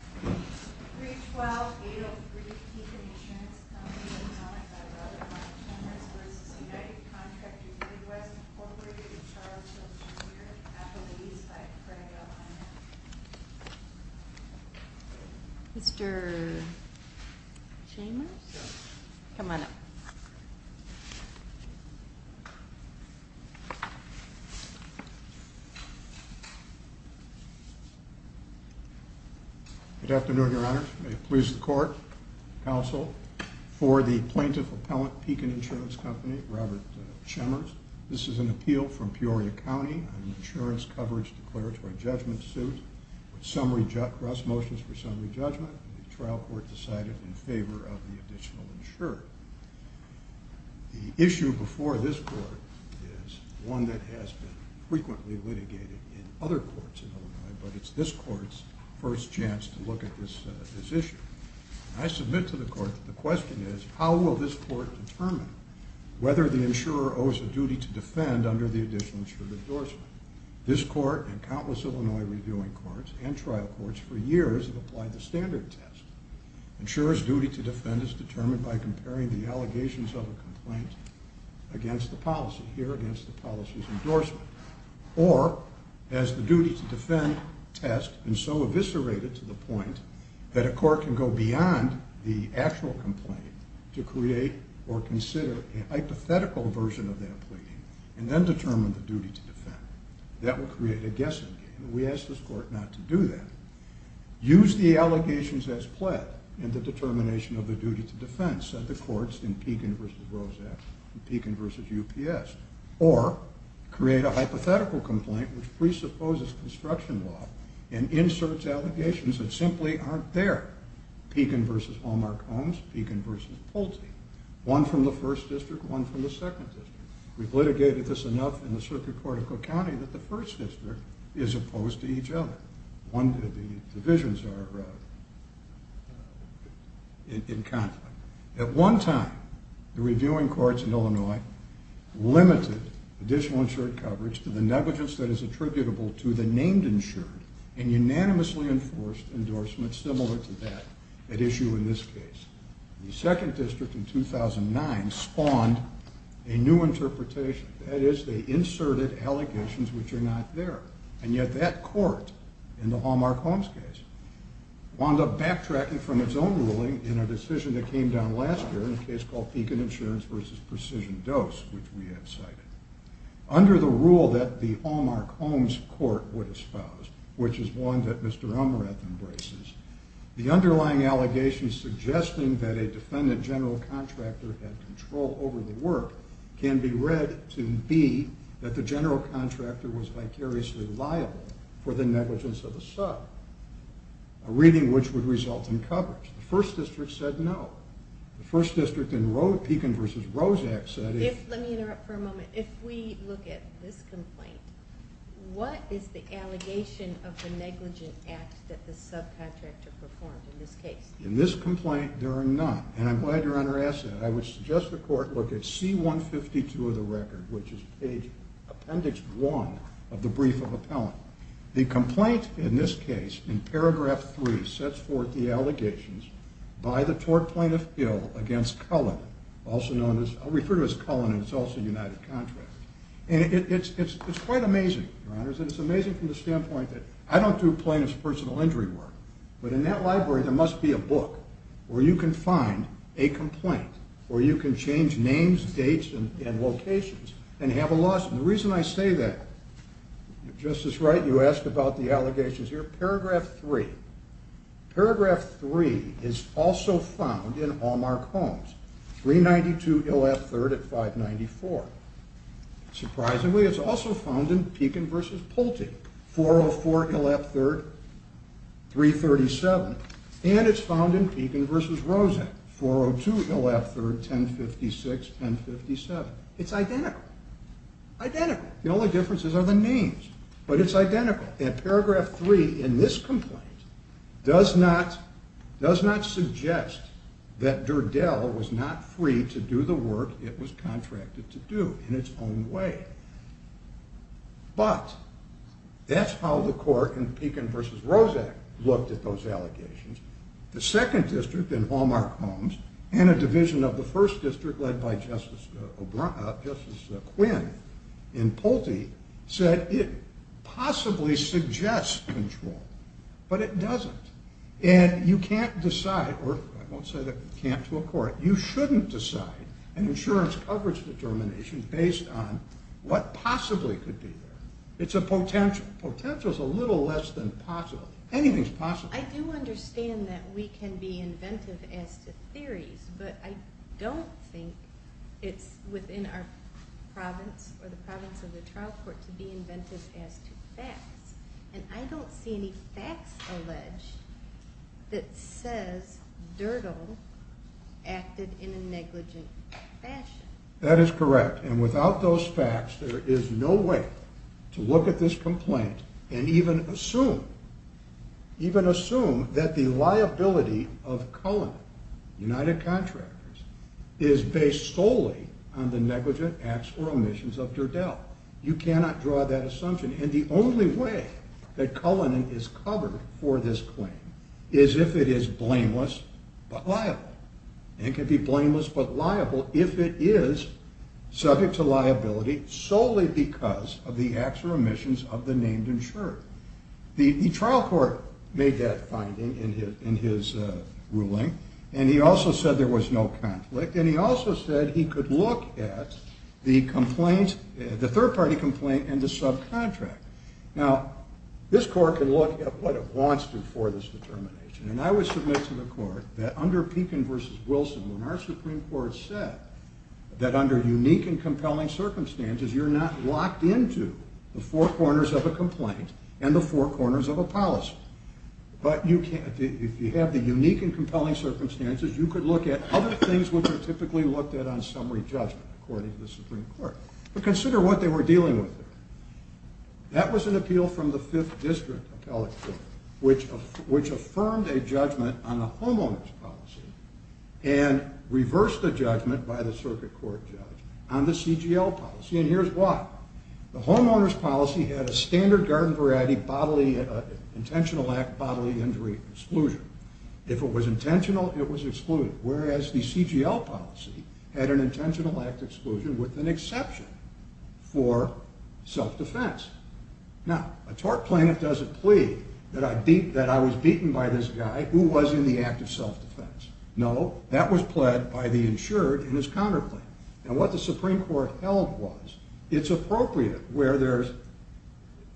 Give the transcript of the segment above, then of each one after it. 312803 Pekin Insurance Company v. United Contractors Midwest, Inc. Charles Hill, Jr. Appellees by Craig O'Connor Good afternoon, Your Honor. May it please the Court, Counsel, for the Plaintiff-Appellant, Pekin Insurance Company, Robert Chemers. This is an appeal from Peoria County on an insurance coverage declaratory judgment suit with cross motions for summary judgment. The trial court decided in favor of the additional insurer. The issue before this Court is one that has been frequently litigated in other courts in Illinois, but it's this Court's first chance to look at this issue. I submit to the Court that the question is, how will this Court determine whether the insurer owes a duty to defend under the additional insured endorsement? This Court and countless Illinois reviewing courts and trial courts for years have applied the standard test. Insurers' duty to defend is determined by comparing the allegations of a complaint against the policy, here against the policy's endorsement. Or, has the duty to defend test been so eviscerated to the point that a court can go beyond the actual complaint to create or consider a hypothetical version of that plea, and then determine the duty to defend? That would create a guessing game. We ask this Court not to do that. Use the allegations as pled in the determination of the duty to defend, said the courts in Pekin v. Rosak and Pekin v. UPS. Or, create a hypothetical complaint which presupposes construction law and inserts allegations that simply aren't there. Pekin v. Hallmark-Holmes, Pekin v. Pulte. One from the 1st District, one from the 2nd District. We've litigated this enough in the Circuit Court of Cook County that the 1st District is opposed to each other. The divisions are in conflict. At one time, the reviewing courts in Illinois limited additional insured coverage to the negligence that is attributable to the named insured, and unanimously enforced endorsement similar to that at issue in this case. The 2nd District in 2009 spawned a new interpretation. That is, they inserted allegations which are not there. And yet that court, in the Hallmark-Holmes case, wound up backtracking from its own ruling in a decision that came down last year in a case called Pekin Insurance v. Precision Dose, which we have cited. Under the rule that the Hallmark-Holmes Court would espouse, which is one that Mr. Umarath embraces, the underlying allegations suggesting that a defendant general contractor had control over the work can be read to be that the general contractor was vicariously liable for the negligence of the sub, a reading which would result in coverage. The 1st District said no. The 1st District in Pekin v. Rozak said... Let me interrupt for a moment. If we look at this complaint, what is the allegation of the negligent act that the subcontractor performed in this case? In this complaint, there are none, and I'm glad you're on our asset. I would suggest the court look at C-152 of the record, which is page appendix 1 of the brief of appellant. The complaint in this case, in paragraph 3, sets forth the allegations by the tort plaintiff, Hill, against Cullen, also known as Cullen in Tulsa United Contracts. It's quite amazing, and it's amazing from the standpoint that I don't do plaintiff's personal injury work, but in that library there must be a book where you can find a complaint, where you can change names, dates, and locations, and have a lawsuit. The reason I say that, Justice Wright, you asked about the allegations here. Let's look at paragraph 3. Paragraph 3 is also found in Hallmark Homes, 392 Hill F. 3rd at 594. Surprisingly, it's also found in Pekin v. Pulte, 404 Hill F. 3rd, 337. And it's found in Pekin v. Rozak, 402 Hill F. 3rd, 1056, 1057. It's identical. Identical. The only differences are the names. But it's identical. And paragraph 3 in this complaint does not suggest that Durdell was not free to do the work it was contracted to do in its own way. But that's how the court in Pekin v. Rozak looked at those allegations. The second district in Hallmark Homes and a division of the first district led by Justice Quinn in Pulte said it possibly suggests control, but it doesn't. And you can't decide, or I won't say that you can't to a court, you shouldn't decide an insurance coverage determination based on what possibly could be there. It's a potential. Potential's a little less than possible. Anything's possible. I do understand that we can be inventive as to theories, but I don't think it's within our province or the province of the trial court to be inventive as to facts. And I don't see any facts alleged that says Durdell acted in a negligent fashion. That is correct. And without those facts, there is no way to look at this complaint and even assume that the liability of Cullinan, United Contractors, is based solely on the negligent acts or omissions of Durdell. You cannot draw that assumption. And the only way that Cullinan is covered for this claim is if it is blameless but liable. If it is subject to liability solely because of the acts or omissions of the named insurer. The trial court made that finding in his ruling, and he also said there was no conflict, and he also said he could look at the third-party complaint and the subcontract. Now, this court can look at what it wants to for this determination, and I would submit to the court that under Pekin v. Wilson, when our Supreme Court said that under unique and compelling circumstances, you're not locked into the four corners of a complaint and the four corners of a policy. But if you have the unique and compelling circumstances, you could look at other things which are typically looked at on summary judgment, according to the Supreme Court. But consider what they were dealing with there. That was an appeal from the 5th District Appellate Court, which affirmed a judgment on the homeowner's policy and reversed the judgment by the circuit court judge on the CGL policy, and here's why. The homeowner's policy had a standard garden variety intentional act bodily injury exclusion. If it was intentional, it was excluded, whereas the CGL policy had an intentional act exclusion with an exception for self-defense. Now, a tort plaintiff doesn't plead that I was beaten by this guy who was in the act of self-defense. No, that was pled by the insured in his counterclaim. And what the Supreme Court held was it's appropriate where there's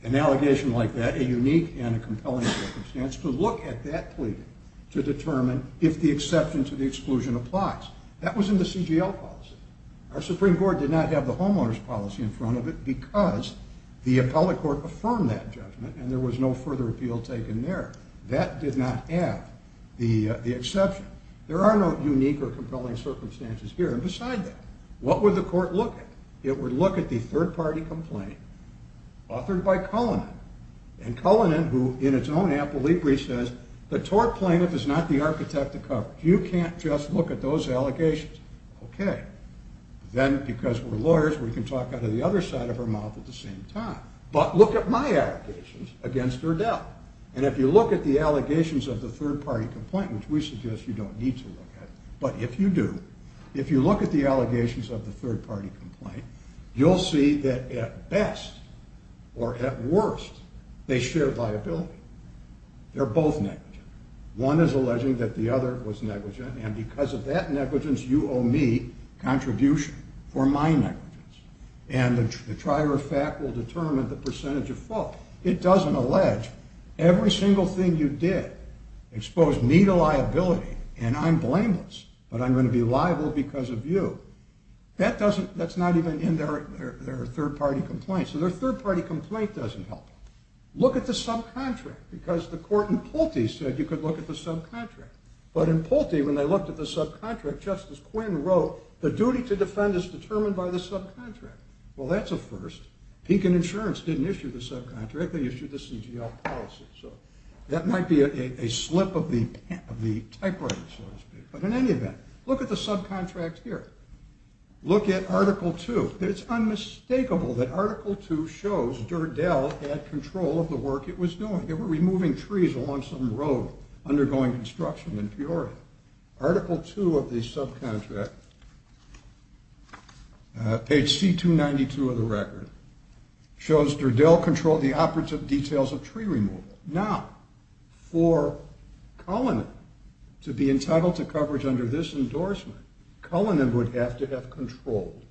an allegation like that, a unique and a compelling circumstance, to look at that plea to determine if the exception to the exclusion applies. That was in the CGL policy. Our Supreme Court did not have the homeowner's policy in front of it because the appellate court affirmed that judgment and there was no further appeal taken there. That did not have the exception. There are no unique or compelling circumstances here. And beside that, what would the court look at? It would look at the third-party complaint authored by Cullinan. And Cullinan, who in its own appellee brief says, the tort plaintiff is not the architect of coverage. You can't just look at those allegations. Okay. Then, because we're lawyers, we can talk out of the other side of her mouth at the same time. But look at my allegations against her death. And if you look at the allegations of the third-party complaint, which we suggest you don't need to look at, but if you do, if you look at the allegations of the third-party complaint, you'll see that at best or at worst, they share viability. They're both negative. One is alleging that the other was negligent, and because of that negligence, you owe me contribution for my negligence. And the trier of fact will determine the percentage of fault. It doesn't allege. Every single thing you did exposed me to liability, and I'm blameless, but I'm going to be liable because of you. That's not even in their third-party complaint. So their third-party complaint doesn't help. Look at the subcontract, because the court in Pulte said you could look at the subcontract. But in Pulte, when they looked at the subcontract, Justice Quinn wrote, the duty to defend is determined by the subcontract. Well, that's a first. Pink and Insurance didn't issue the subcontract. They issued the CGL policy. So that might be a slip of the typewriter, so to speak. But in any event, look at the subcontract here. Look at Article 2. It's unmistakable that Article 2 shows Durdell had control of the work it was doing. They were removing trees along some road undergoing construction in Peoria. Article 2 of the subcontract, page C-292 of the record, shows Durdell controlled the operative details of tree removal. Now, for Cullinan to be entitled to coverage under this endorsement, Cullinan would have to have controlled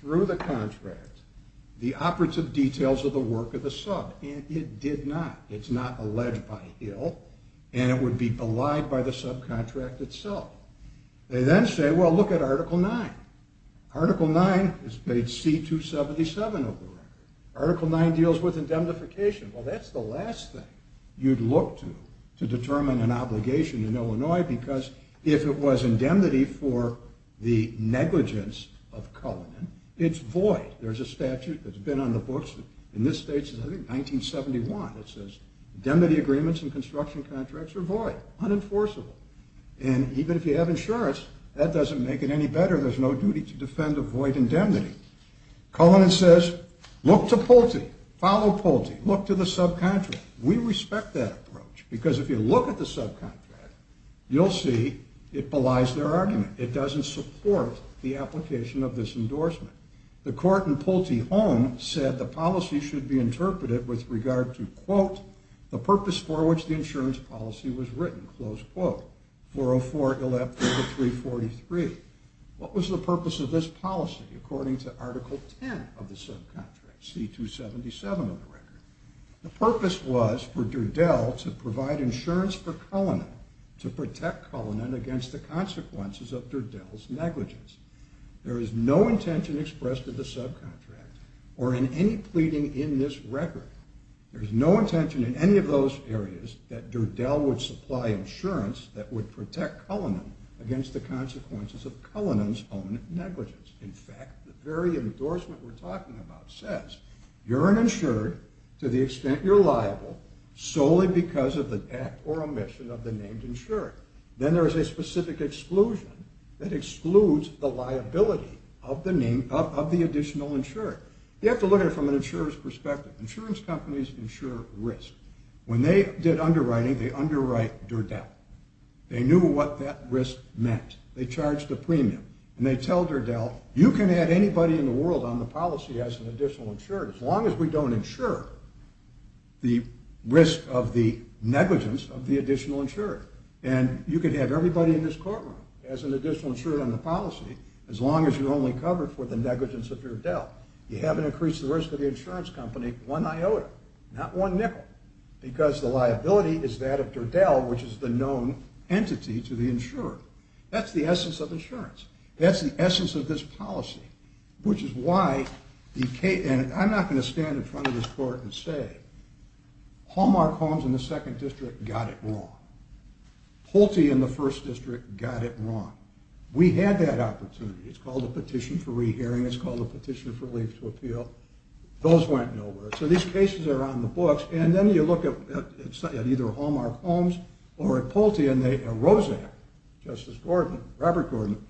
through the contract the operative details of the work of the sub, and it did not. It's not alleged by Hill, and it would be belied by the subcontract itself. They then say, well, look at Article 9. Article 9 is page C-277 of the record. Article 9 deals with indemnification. Well, that's the last thing you'd look to to determine an obligation in Illinois, because if it was indemnity for the negligence of Cullinan, it's void. There's a statute that's been on the books in this state since, I think, 1971 that says indemnity agreements and construction contracts are void, unenforceable. And even if you have insurance, that doesn't make it any better. There's no duty to defend a void indemnity. Cullinan says, look to Pulte, follow Pulte, look to the subcontract. We respect that approach, because if you look at the subcontract, you'll see it belies their argument. It doesn't support the application of this endorsement. The court in Pulte Home said the policy should be interpreted with regard to, quote, the purpose for which the insurance policy was written, close quote, 404-11-343. What was the purpose of this policy, according to Article 10 of the subcontract, C-277 of the record? The purpose was for Durdell to provide insurance for Cullinan, to protect Cullinan against the consequences of Durdell's negligence. There is no intention expressed in the subcontract or in any pleading in this record, there's no intention in any of those areas that Durdell would supply insurance that would protect Cullinan against the consequences of Cullinan's own negligence. In fact, the very endorsement we're talking about says, you're an insured to the extent you're liable solely because of the act or omission of the named insurer. Then there is a specific exclusion that excludes the liability of the name, of the additional insurer. You have to look at it from an insurer's perspective. Insurance companies insure risk. When they did underwriting, they underwrite Durdell. They knew what that risk meant. They charged a premium, and they tell Durdell, you can add anybody in the world on the policy as an additional insurer, as long as we don't insure the risk of the negligence of the additional insurer. And you can have everybody in this courtroom as an additional insurer on the policy, as long as you're only covered for the negligence of Durdell. You haven't increased the risk of the insurance company one iota, not one nickel, because the liability is that of Durdell, which is the known entity to the insurer. That's the essence of insurance. That's the essence of this policy, which is why the case – and I'm not going to stand in front of this court and say, Hallmark Holmes in the 2nd District got it wrong. Pulte in the 1st District got it wrong. We had that opportunity. It's called a petition for rehearing. It's called a petition for relief to appeal. Those went nowhere. So these cases are on the books, and then you look at either Hallmark Holmes or at Pulte, and they – and Rosak, Justice Gordon, Robert Gordon,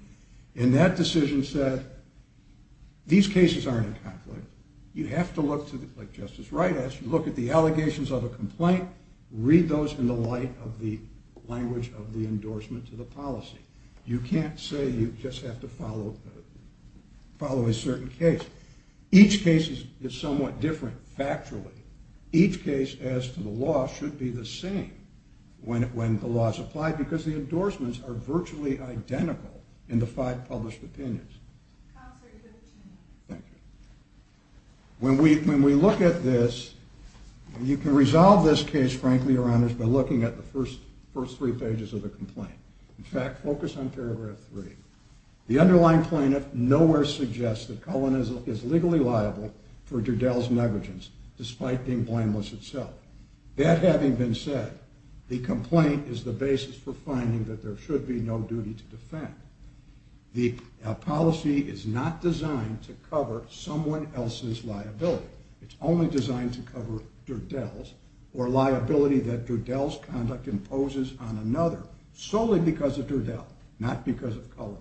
in that decision said, these cases aren't a conflict. You have to look to the – like Justice Wright asked, you look at the allegations of a complaint, read those in the light of the language of the endorsement to the policy. You can't say you just have to follow a certain case. Each case is somewhat different factually. Each case, as to the law, should be the same when the law is applied because the endorsements are virtually identical in the five published opinions. Thank you. When we look at this, you can resolve this case, frankly, Your Honors, by looking at the first three pages of the complaint. In fact, focus on paragraph 3. The underlying plaintiff nowhere suggests that Cullen is legally liable for Durdell's negligence, despite being blameless itself. That having been said, the complaint is the basis for finding that there should be no duty to defend. The policy is not designed to cover someone else's liability. It's only designed to cover Durdell's or liability that Durdell's conduct imposes on another solely because of Durdell, not because of Cullen.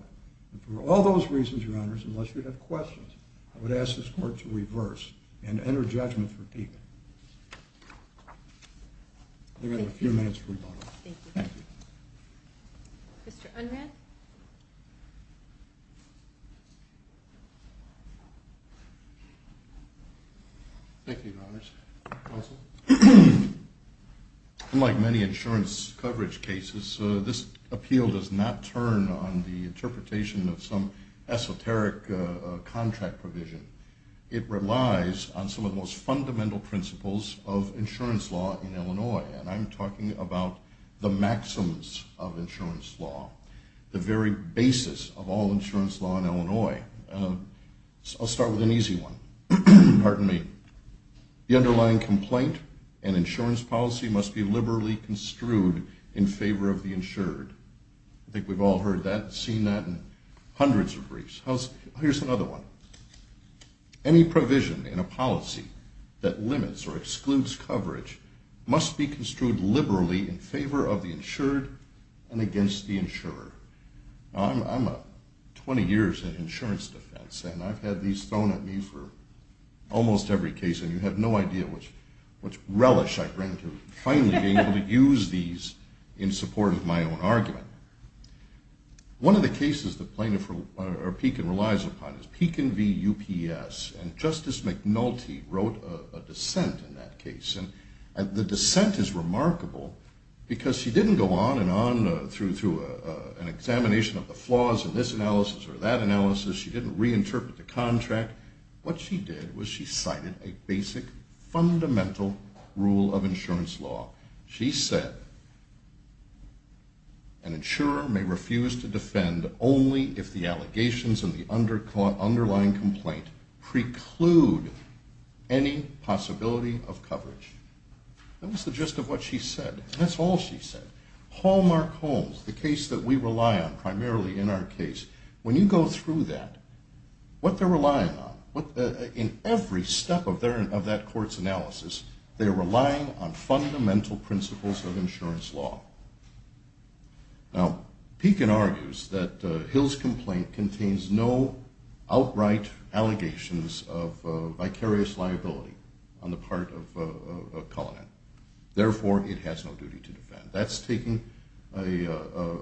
And for all those reasons, Your Honors, unless you have questions, I would ask this Court to reverse and enter judgment for Pekin. You have a few minutes to rebuttal. Thank you. Mr. Unran. Thank you, Your Honors. Unlike many insurance coverage cases, this appeal does not turn on the interpretation of some esoteric contract provision. It relies on some of the most fundamental principles of insurance law in Illinois, and I'm talking about the maxims of insurance law, the very basis of all insurance law in Illinois. I'll start with an easy one. Pardon me. The underlying complaint and insurance policy must be liberally construed in favor of the insured. I think we've all heard that, seen that in hundreds of briefs. Here's another one. Any provision in a policy that limits or excludes coverage must be construed liberally in favor of the insured and against the insurer. I'm 20 years in insurance defense, and I've had these thrown at me for almost every case, and you have no idea which relish I grant to finally being able to use these in support of my own argument. One of the cases the plaintiff, or Pekin, relies upon is Pekin v. UPS, and Justice McNulty wrote a dissent in that case. The dissent is remarkable because she didn't go on and on through an examination of the flaws in this analysis or that analysis. She didn't reinterpret the contract. What she did was she cited a basic, fundamental rule of insurance law. She said, an insurer may refuse to defend only if the allegations in the underlying complaint preclude any possibility of coverage. That was the gist of what she said, and that's all she said. Hallmark Holmes, the case that we rely on primarily in our case, when you go through that, what they're relying on, in every step of that court's analysis, they're relying on fundamental principles of insurance law. Now, Pekin argues that Hill's complaint contains no outright allegations of vicarious liability on the part of Cullinan. Therefore, it has no duty to defend. That's taking a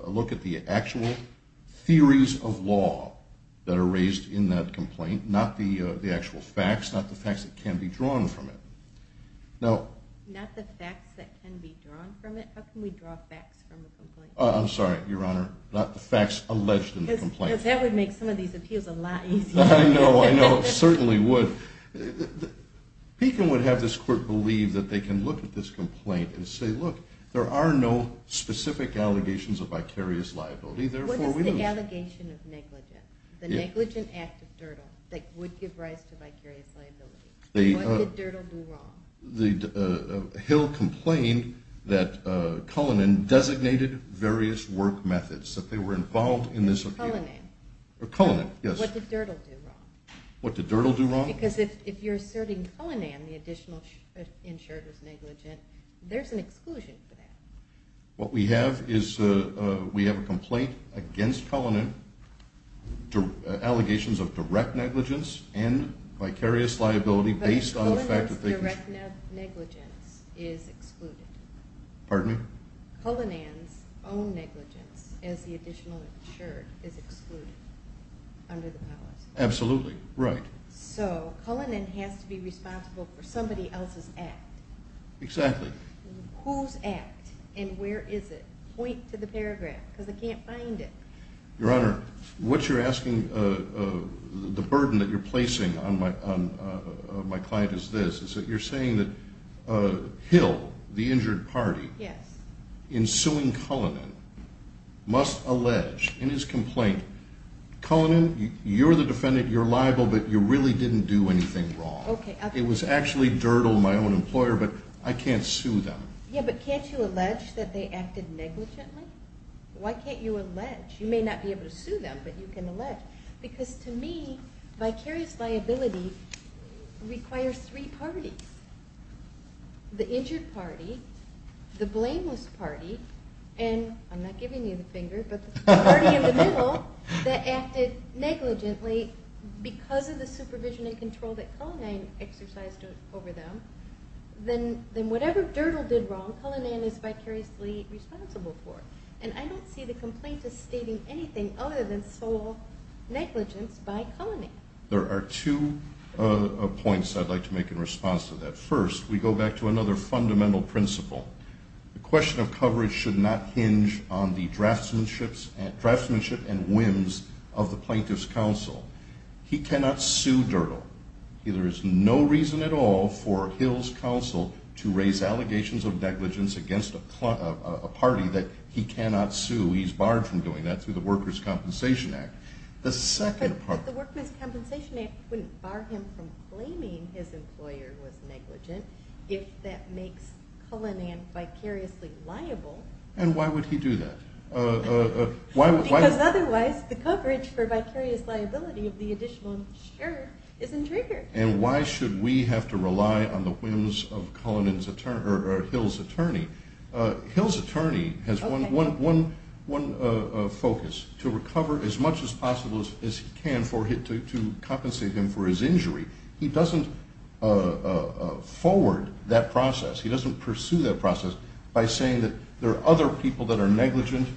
look at the actual theories of law that are raised in that complaint, not the actual facts, not the facts that can be drawn from it. Not the facts that can be drawn from it? How can we draw facts from a complaint? I'm sorry, Your Honor. Not the facts alleged in the complaint. Because that would make some of these appeals a lot easier. I know. I know. It certainly would. Pekin would have this court believe that they can look at this complaint and say, look, there are no specific allegations of vicarious liability. Therefore, we lose. What is the allegation of negligence? The negligent act of Dirtle that would give rise to vicarious liability. What did Dirtle do wrong? Hill complained that Cullinan designated various work methods, that they were involved in this appeal. Cullinan. Cullinan, yes. What did Dirtle do wrong? What did Dirtle do wrong? Because if you're asserting Cullinan, the additional insured was negligent, there's an exclusion for that. What we have is we have a complaint against Cullinan, allegations of direct negligence and vicarious liability based on the fact that they Cullinan's direct negligence is excluded. Pardon me? Cullinan's own negligence as the additional insured is excluded under the powers. Absolutely. Right. So Cullinan has to be responsible for somebody else's act. Exactly. Whose act and where is it? Point to the paragraph because I can't find it. Your Honor, what you're asking, the burden that you're placing on my client is this, is that you're saying that Hill, the injured party, Yes. in suing Cullinan must allege in his complaint, Cullinan, you're the defendant, you're liable, but you really didn't do anything wrong. Okay. It was actually dirt on my own employer, but I can't sue them. Yeah, but can't you allege that they acted negligently? Why can't you allege? You may not be able to sue them, but you can allege. Because to me, vicarious liability requires three parties, the injured party, the blameless party, and I'm not giving you the finger, but the party in the middle that acted negligently because of the supervision and control that Cullinan exercised over them, then whatever Dirdol did wrong, Cullinan is vicariously responsible for. And I don't see the complaint as stating anything other than sole negligence by Cullinan. There are two points I'd like to make in response to that. First, we go back to another fundamental principle. The question of coverage should not hinge on the draftsmanship and whims of the plaintiff's counsel. He cannot sue Dirdol. There is no reason at all for Hill's counsel to raise allegations of negligence against a party that he cannot sue. He's barred from doing that through the Workers' Compensation Act. But the Workers' Compensation Act wouldn't bar him from claiming his employer was negligent if that makes Cullinan vicariously liable. And why would he do that? Because otherwise the coverage for vicarious liability of the additional share isn't triggered. And why should we have to rely on the whims of Hill's attorney? Hill's attorney has one focus, to recover as much as possible as he can to compensate him for his injury. He doesn't forward that process. He doesn't pursue that process by saying that there are other people that are negligent,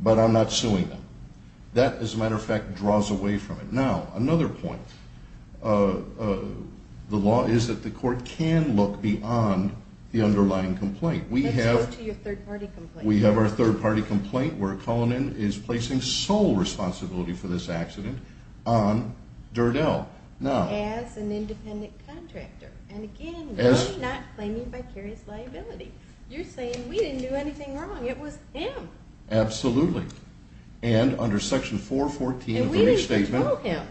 but I'm not suing them. That, as a matter of fact, draws away from it. Now, another point. The law is that the court can look beyond the underlying complaint. Let's move to your third-party complaint. We have our third-party complaint where Cullinan is placing sole responsibility for this accident on Dirdol. As an independent contractor. And, again, we're not claiming vicarious liability. You're saying we didn't do anything wrong. It was him. Absolutely. And under Section 414 of the Restatement. And we didn't control him.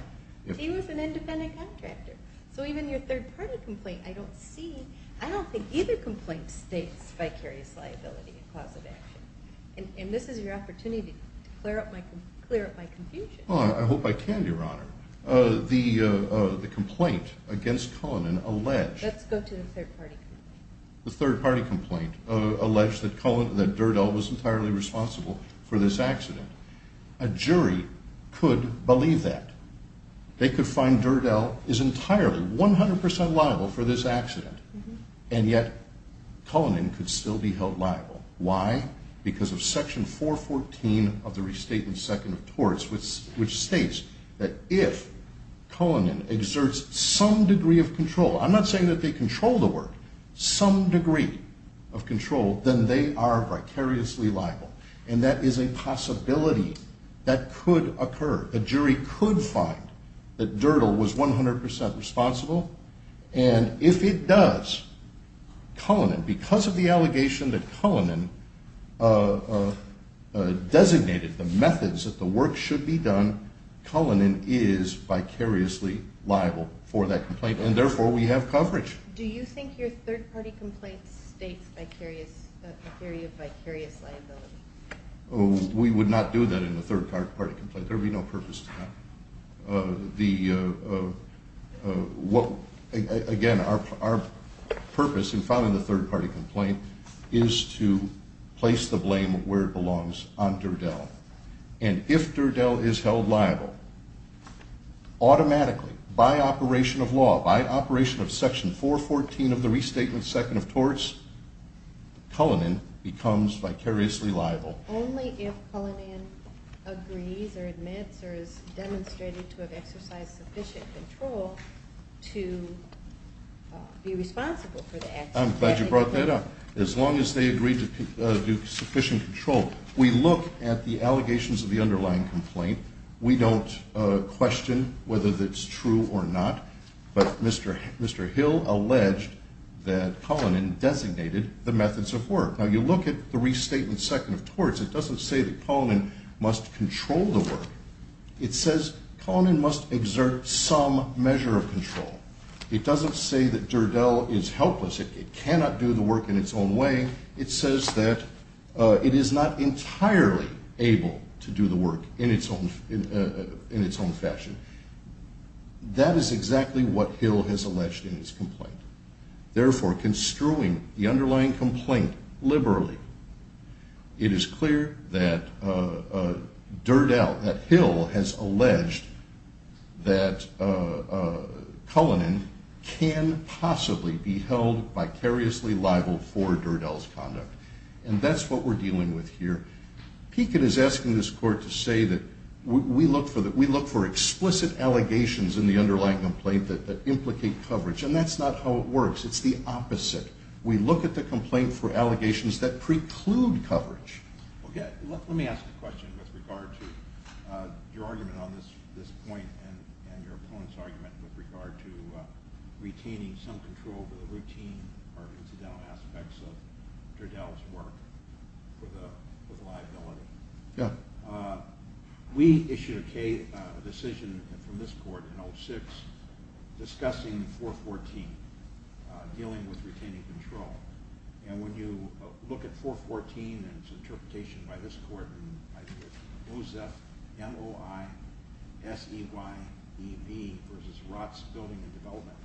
He was an independent contractor. So even your third-party complaint, I don't see. I don't think either complaint states vicarious liability in the cause of action. And this is your opportunity to clear up my confusion. Well, I hope I can, Your Honor. The complaint against Cullinan alleged. Let's go to the third-party complaint. The third-party complaint alleged that Dirdol was entirely responsible for this accident. A jury could believe that. They could find Dirdol is entirely, 100% liable for this accident. And yet Cullinan could still be held liable. Why? Because of Section 414 of the Restatement Second of Torts. Which states that if Cullinan exerts some degree of control. I'm not saying that they control the work. Some degree of control. Then they are vicariously liable. And that is a possibility that could occur. A jury could find that Dirdol was 100% responsible. And if it does, Cullinan, because of the allegation that Cullinan designated the methods that the work should be done. Cullinan is vicariously liable for that complaint. And therefore we have coverage. Do you think your third-party complaint states a theory of vicarious liability? We would not do that in a third-party complaint. There would be no purpose to that. Again, our purpose in filing a third-party complaint is to place the blame where it belongs on Dirdol. And if Dirdol is held liable, automatically, by operation of law, by operation of Section 414 of the Restatement Second of Torts. Cullinan becomes vicariously liable. Only if Cullinan agrees or admits or is demonstrated to have exercised sufficient control to be responsible for the action. I'm glad you brought that up. As long as they agree to do sufficient control. We look at the allegations of the underlying complaint. We don't question whether that's true or not. But Mr. Hill alleged that Cullinan designated the methods of work. Now you look at the Restatement Second of Torts. It doesn't say that Cullinan must control the work. It says Cullinan must exert some measure of control. It doesn't say that Dirdol is helpless. It cannot do the work in its own way. It says that it is not entirely able to do the work in its own fashion. That is exactly what Hill has alleged in his complaint. Therefore, construing the underlying complaint liberally, it is clear that Dirdol, that Hill has alleged that Cullinan can possibly be held vicariously liable for Dirdol's conduct. And that's what we're dealing with here. Pekin is asking this Court to say that we look for explicit allegations in the underlying complaint that implicate coverage. And that's not how it works. It's the opposite. We look at the complaint for allegations that preclude coverage. Let me ask a question with regard to your argument on this point and your opponent's argument with regard to retaining some control over the routine or incidental aspects of Dirdol's work for the liability. We issued a decision from this Court in 2006 discussing 414, dealing with retaining control. And when you look at 414 and its interpretation by this Court in OSEF, M-O-I-S-E-Y-E-B versus Rotts Building and Development,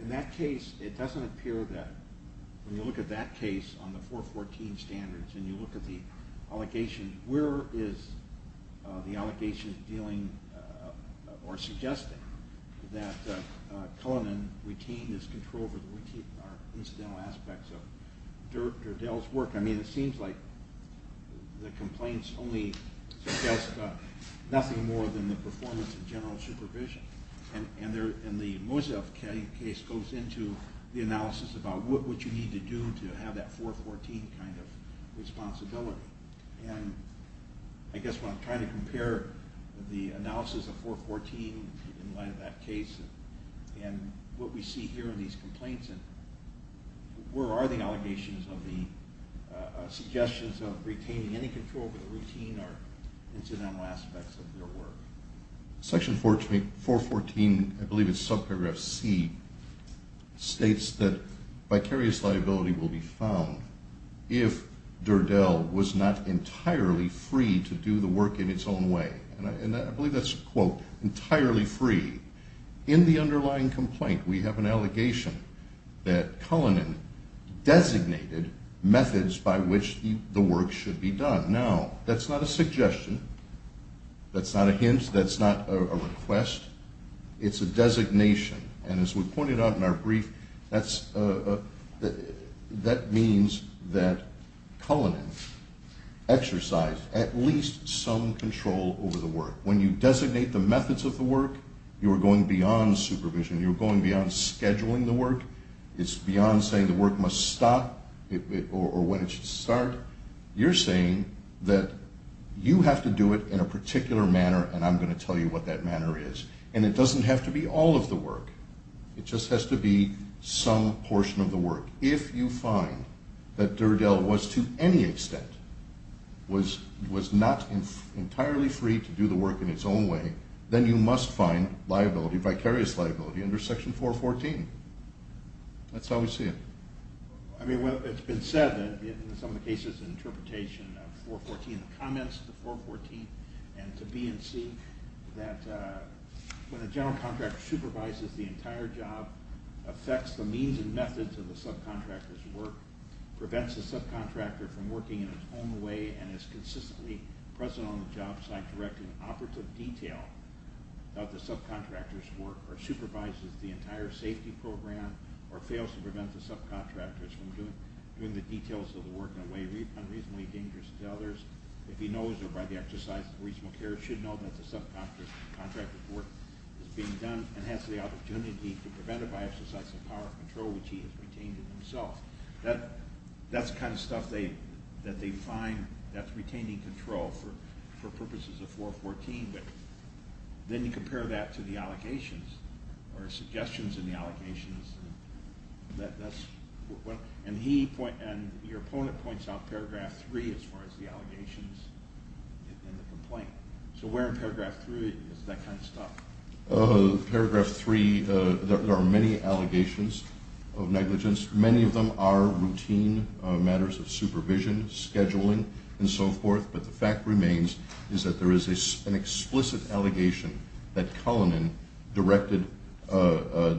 in that case, it doesn't appear that when you look at that case on the 414 standards and you look at the allegations, where is the allegation dealing or suggesting that Cullinan retained his control over the routine or incidental aspects of Dirdol's work? I mean, it seems like the complaints only suggest nothing more than the performance of general supervision. And the Mosef case goes into the analysis about what you need to do to have that 414 kind of responsibility. And I guess when I'm trying to compare the analysis of 414 in light of that case and what we see here in these complaints, where are the allegations of the suggestions of retaining any control over the routine or incidental aspects of their work? Section 414, I believe it's subparagraph C, states that vicarious liability will be found if Dirdol was not entirely free to do the work in its own way. And I believe that's, quote, entirely free. In the underlying complaint, we have an allegation that Cullinan designated methods by which the work should be done. Now, that's not a suggestion. That's not a hint. That's not a request. It's a designation. And as we pointed out in our brief, that means that Cullinan exercised at least some control over the work. When you designate the methods of the work, you are going beyond supervision. You are going beyond scheduling the work. It's beyond saying the work must stop or when it should start. You're saying that you have to do it in a particular manner, and I'm going to tell you what that manner is. And it doesn't have to be all of the work. It just has to be some portion of the work. If you find that Dirdol was to any extent was not entirely free to do the work in its own way, then you must find liability, vicarious liability, under Section 414. That's how we see it. I mean, it's been said in some of the cases and interpretation of 414, the comments of the 414, and to B&C, that when a general contractor supervises the entire job, affects the means and methods of the subcontractor's work, prevents the subcontractor from working in its own way, and is consistently present on the job site directing operative detail of the subcontractor's work, or supervises the entire safety program, or fails to prevent the subcontractor from doing the details of the work in a way unreasonably dangerous to others, if he knows or, by the exercise of reasonable care, should know that the subcontractor's work is being done and has the opportunity to prevent it by exercising the power of control which he has retained in himself. That's the kind of stuff that they find that's retaining control for purposes of 414. Then you compare that to the allegations or suggestions in the allegations. Your opponent points out Paragraph 3 as far as the allegations in the complaint. So where in Paragraph 3 is that kind of stuff? Paragraph 3, there are many allegations of negligence. Many of them are routine matters of supervision, scheduling, and so forth. But the fact remains is that there is an explicit allegation that Cullinan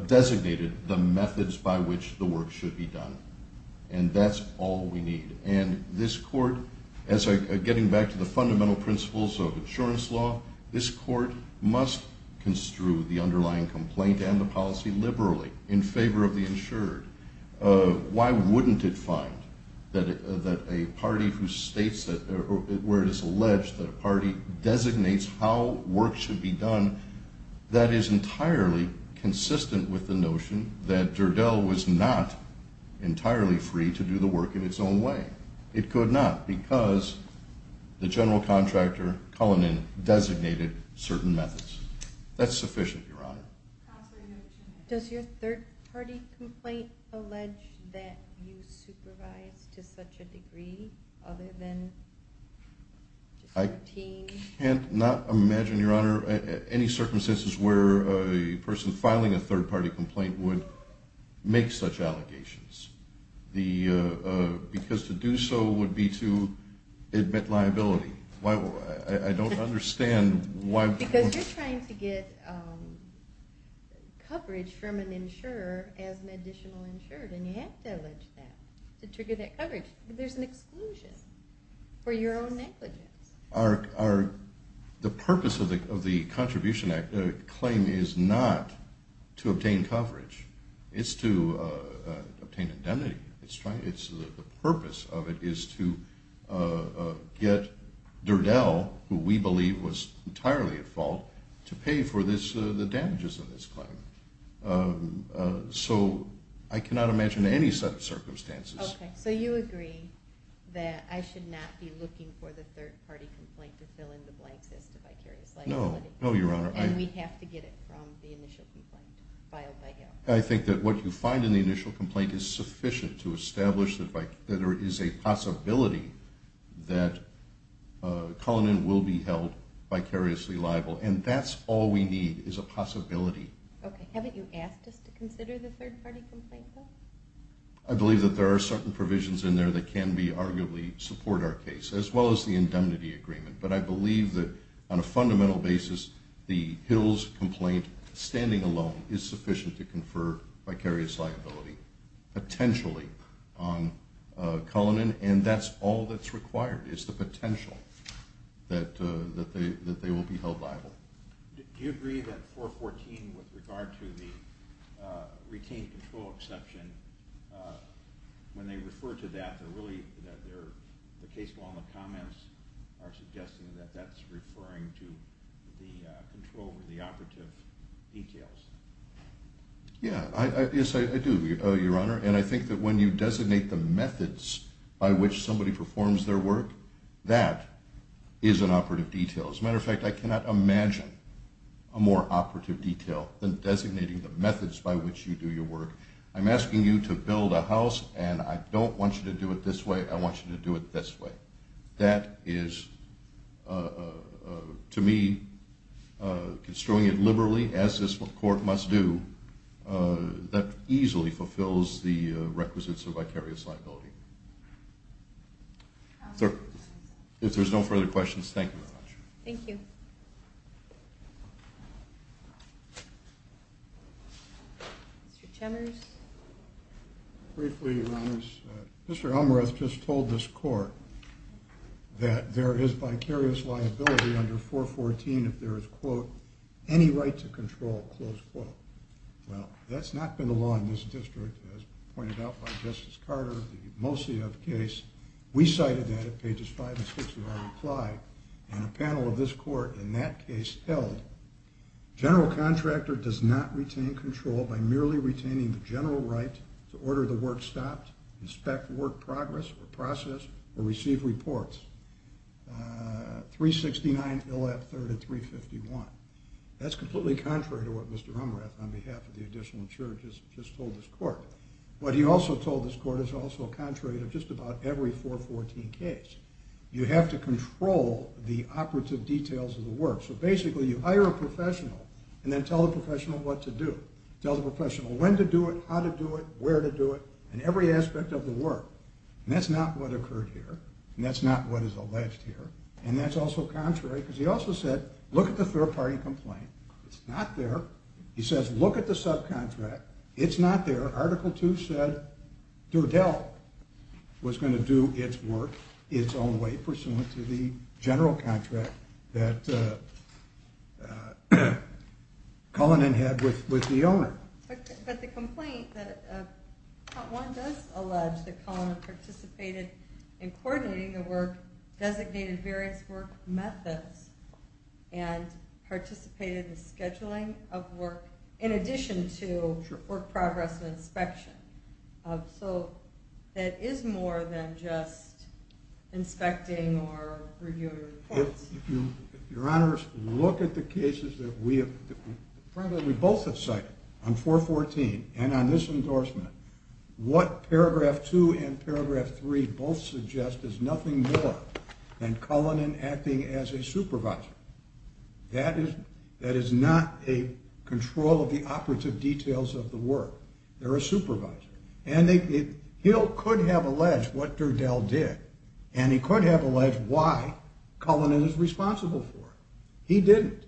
designated the methods by which the work should be done. And that's all we need. And this court, getting back to the fundamental principles of insurance law, this court must construe the underlying complaint and the policy liberally in favor of the insured. Why wouldn't it find that a party who states where it is alleged that a party designates how work should be done, that is entirely consistent with the notion that Durdell was not entirely free to do the work in its own way. It could not because the general contractor, Cullinan, designated certain methods. That's sufficient, Your Honor. Does your third-party complaint allege that you supervise to such a degree other than routine? I cannot imagine, Your Honor, any circumstances where a person filing a third-party complaint would make such allegations. Because to do so would be to admit liability. I don't understand why. Because you're trying to get coverage from an insurer as an additional insured, and you have to allege that to trigger that coverage. There's an exclusion for your own negligence. The purpose of the Contribution Act claim is not to obtain coverage. It's to obtain indemnity. The purpose of it is to get Durdell, who we believe was entirely at fault, to pay for the damages of this claim. So I cannot imagine any such circumstances. Okay. So you agree that I should not be looking for the third-party complaint to fill in the blanks as to vicarious liability? No. No, Your Honor. And we have to get it from the initial complaint filed by him? I think that what you find in the initial complaint is sufficient to establish that there is a possibility that Cullinan will be held vicariously liable, and that's all we need is a possibility. Okay. Haven't you asked us to consider the third-party complaint, though? I believe that there are certain provisions in there that can arguably support our case, as well as the indemnity agreement. But I believe that on a fundamental basis, the Hills complaint standing alone is sufficient to confer vicarious liability, potentially, on Cullinan, and that's all that's required is the potential that they will be held liable. Do you agree that 414, with regard to the retained control exception, when they refer to that, the case law and the comments are suggesting that that's referring to the control or the operative details? Yes, I do, Your Honor, and I think that when you designate the methods by which somebody performs their work, that is an operative detail. As a matter of fact, I cannot imagine a more operative detail than designating the methods by which you do your work. I'm asking you to build a house, and I don't want you to do it this way. I want you to do it this way. That is, to me, construing it liberally, as this Court must do, that easily fulfills the requisites of vicarious liability. If there's no further questions, thank you very much. Thank you. Mr. Chemers? Briefly, Your Honors, Mr. Elmreath just told this Court that there is vicarious liability under 414 if there is, quote, any right to control, close quote. Well, that's not been the law in this district, as pointed out by Justice Carter, the Mosia case. We cited that at pages 5 and 6 of our reply, and a panel of this Court in that case held, general contractor does not retain control by merely retaining the general right to order the work stopped, inspect work progress, or process, or receive reports. 369 Ill. F. 3rd at 351. That's completely contrary to what Mr. Elmreath, on behalf of the additional insurers, just told this Court. What he also told this Court is also contrary to just about every 414 case. You have to control the operative details of the work. So basically, you hire a professional, and then tell the professional what to do. Tell the professional when to do it, how to do it, where to do it, and every aspect of the work. And that's not what occurred here, and that's not what is alleged here, and that's also contrary, because he also said, look at the third-party complaint. It's not there. He says, look at the subcontract. It's not there. Article 2 said Durdell was going to do its work its own way, pursuant to the general contract that Cullinan had with the owner. But the complaint, Part 1 does allege that Cullinan participated in coordinating the work, designated various work methods, and participated in the scheduling of work, in addition to work progress and inspection. So that is more than just inspecting or reviewing reports. Your Honors, look at the cases that we both have cited on 414 and on this endorsement. What Paragraph 2 and Paragraph 3 both suggest is nothing more than Cullinan acting as a supervisor. That is not a control of the operative details of the work. They're a supervisor. And Hill could have alleged what Durdell did, and he could have alleged why Cullinan is responsible for it. He didn't.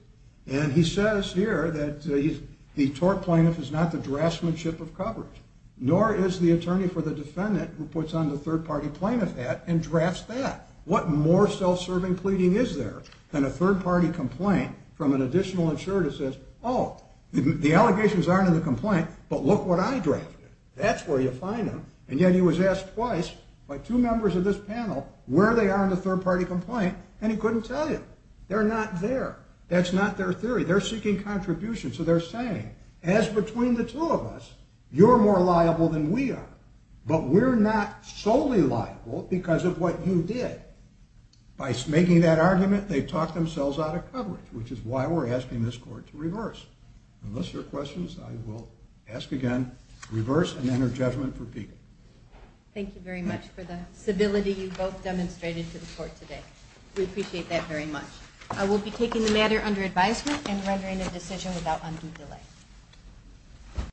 And he says here that the tort plaintiff is not the draftsmanship of coverage. Nor is the attorney for the defendant who puts on the third-party plaintiff hat and drafts that. What more self-serving pleading is there than a third-party complaint from an additional insurer that says, oh, the allegations aren't in the complaint, but look what I drafted. That's where you find them. And yet he was asked twice by two members of this panel where they are in the third-party complaint, and he couldn't tell you. They're not there. That's not their theory. They're seeking contribution. So they're saying, as between the two of us, you're more liable than we are. But we're not solely liable because of what you did. By making that argument, they've talked themselves out of coverage, which is why we're asking this Court to reverse. Unless there are questions, I will ask again, reverse, and enter judgment for Peekin. Thank you very much for the civility you both demonstrated to the Court today. We appreciate that very much. I will be taking the matter under advisement and rendering a decision without undue delay.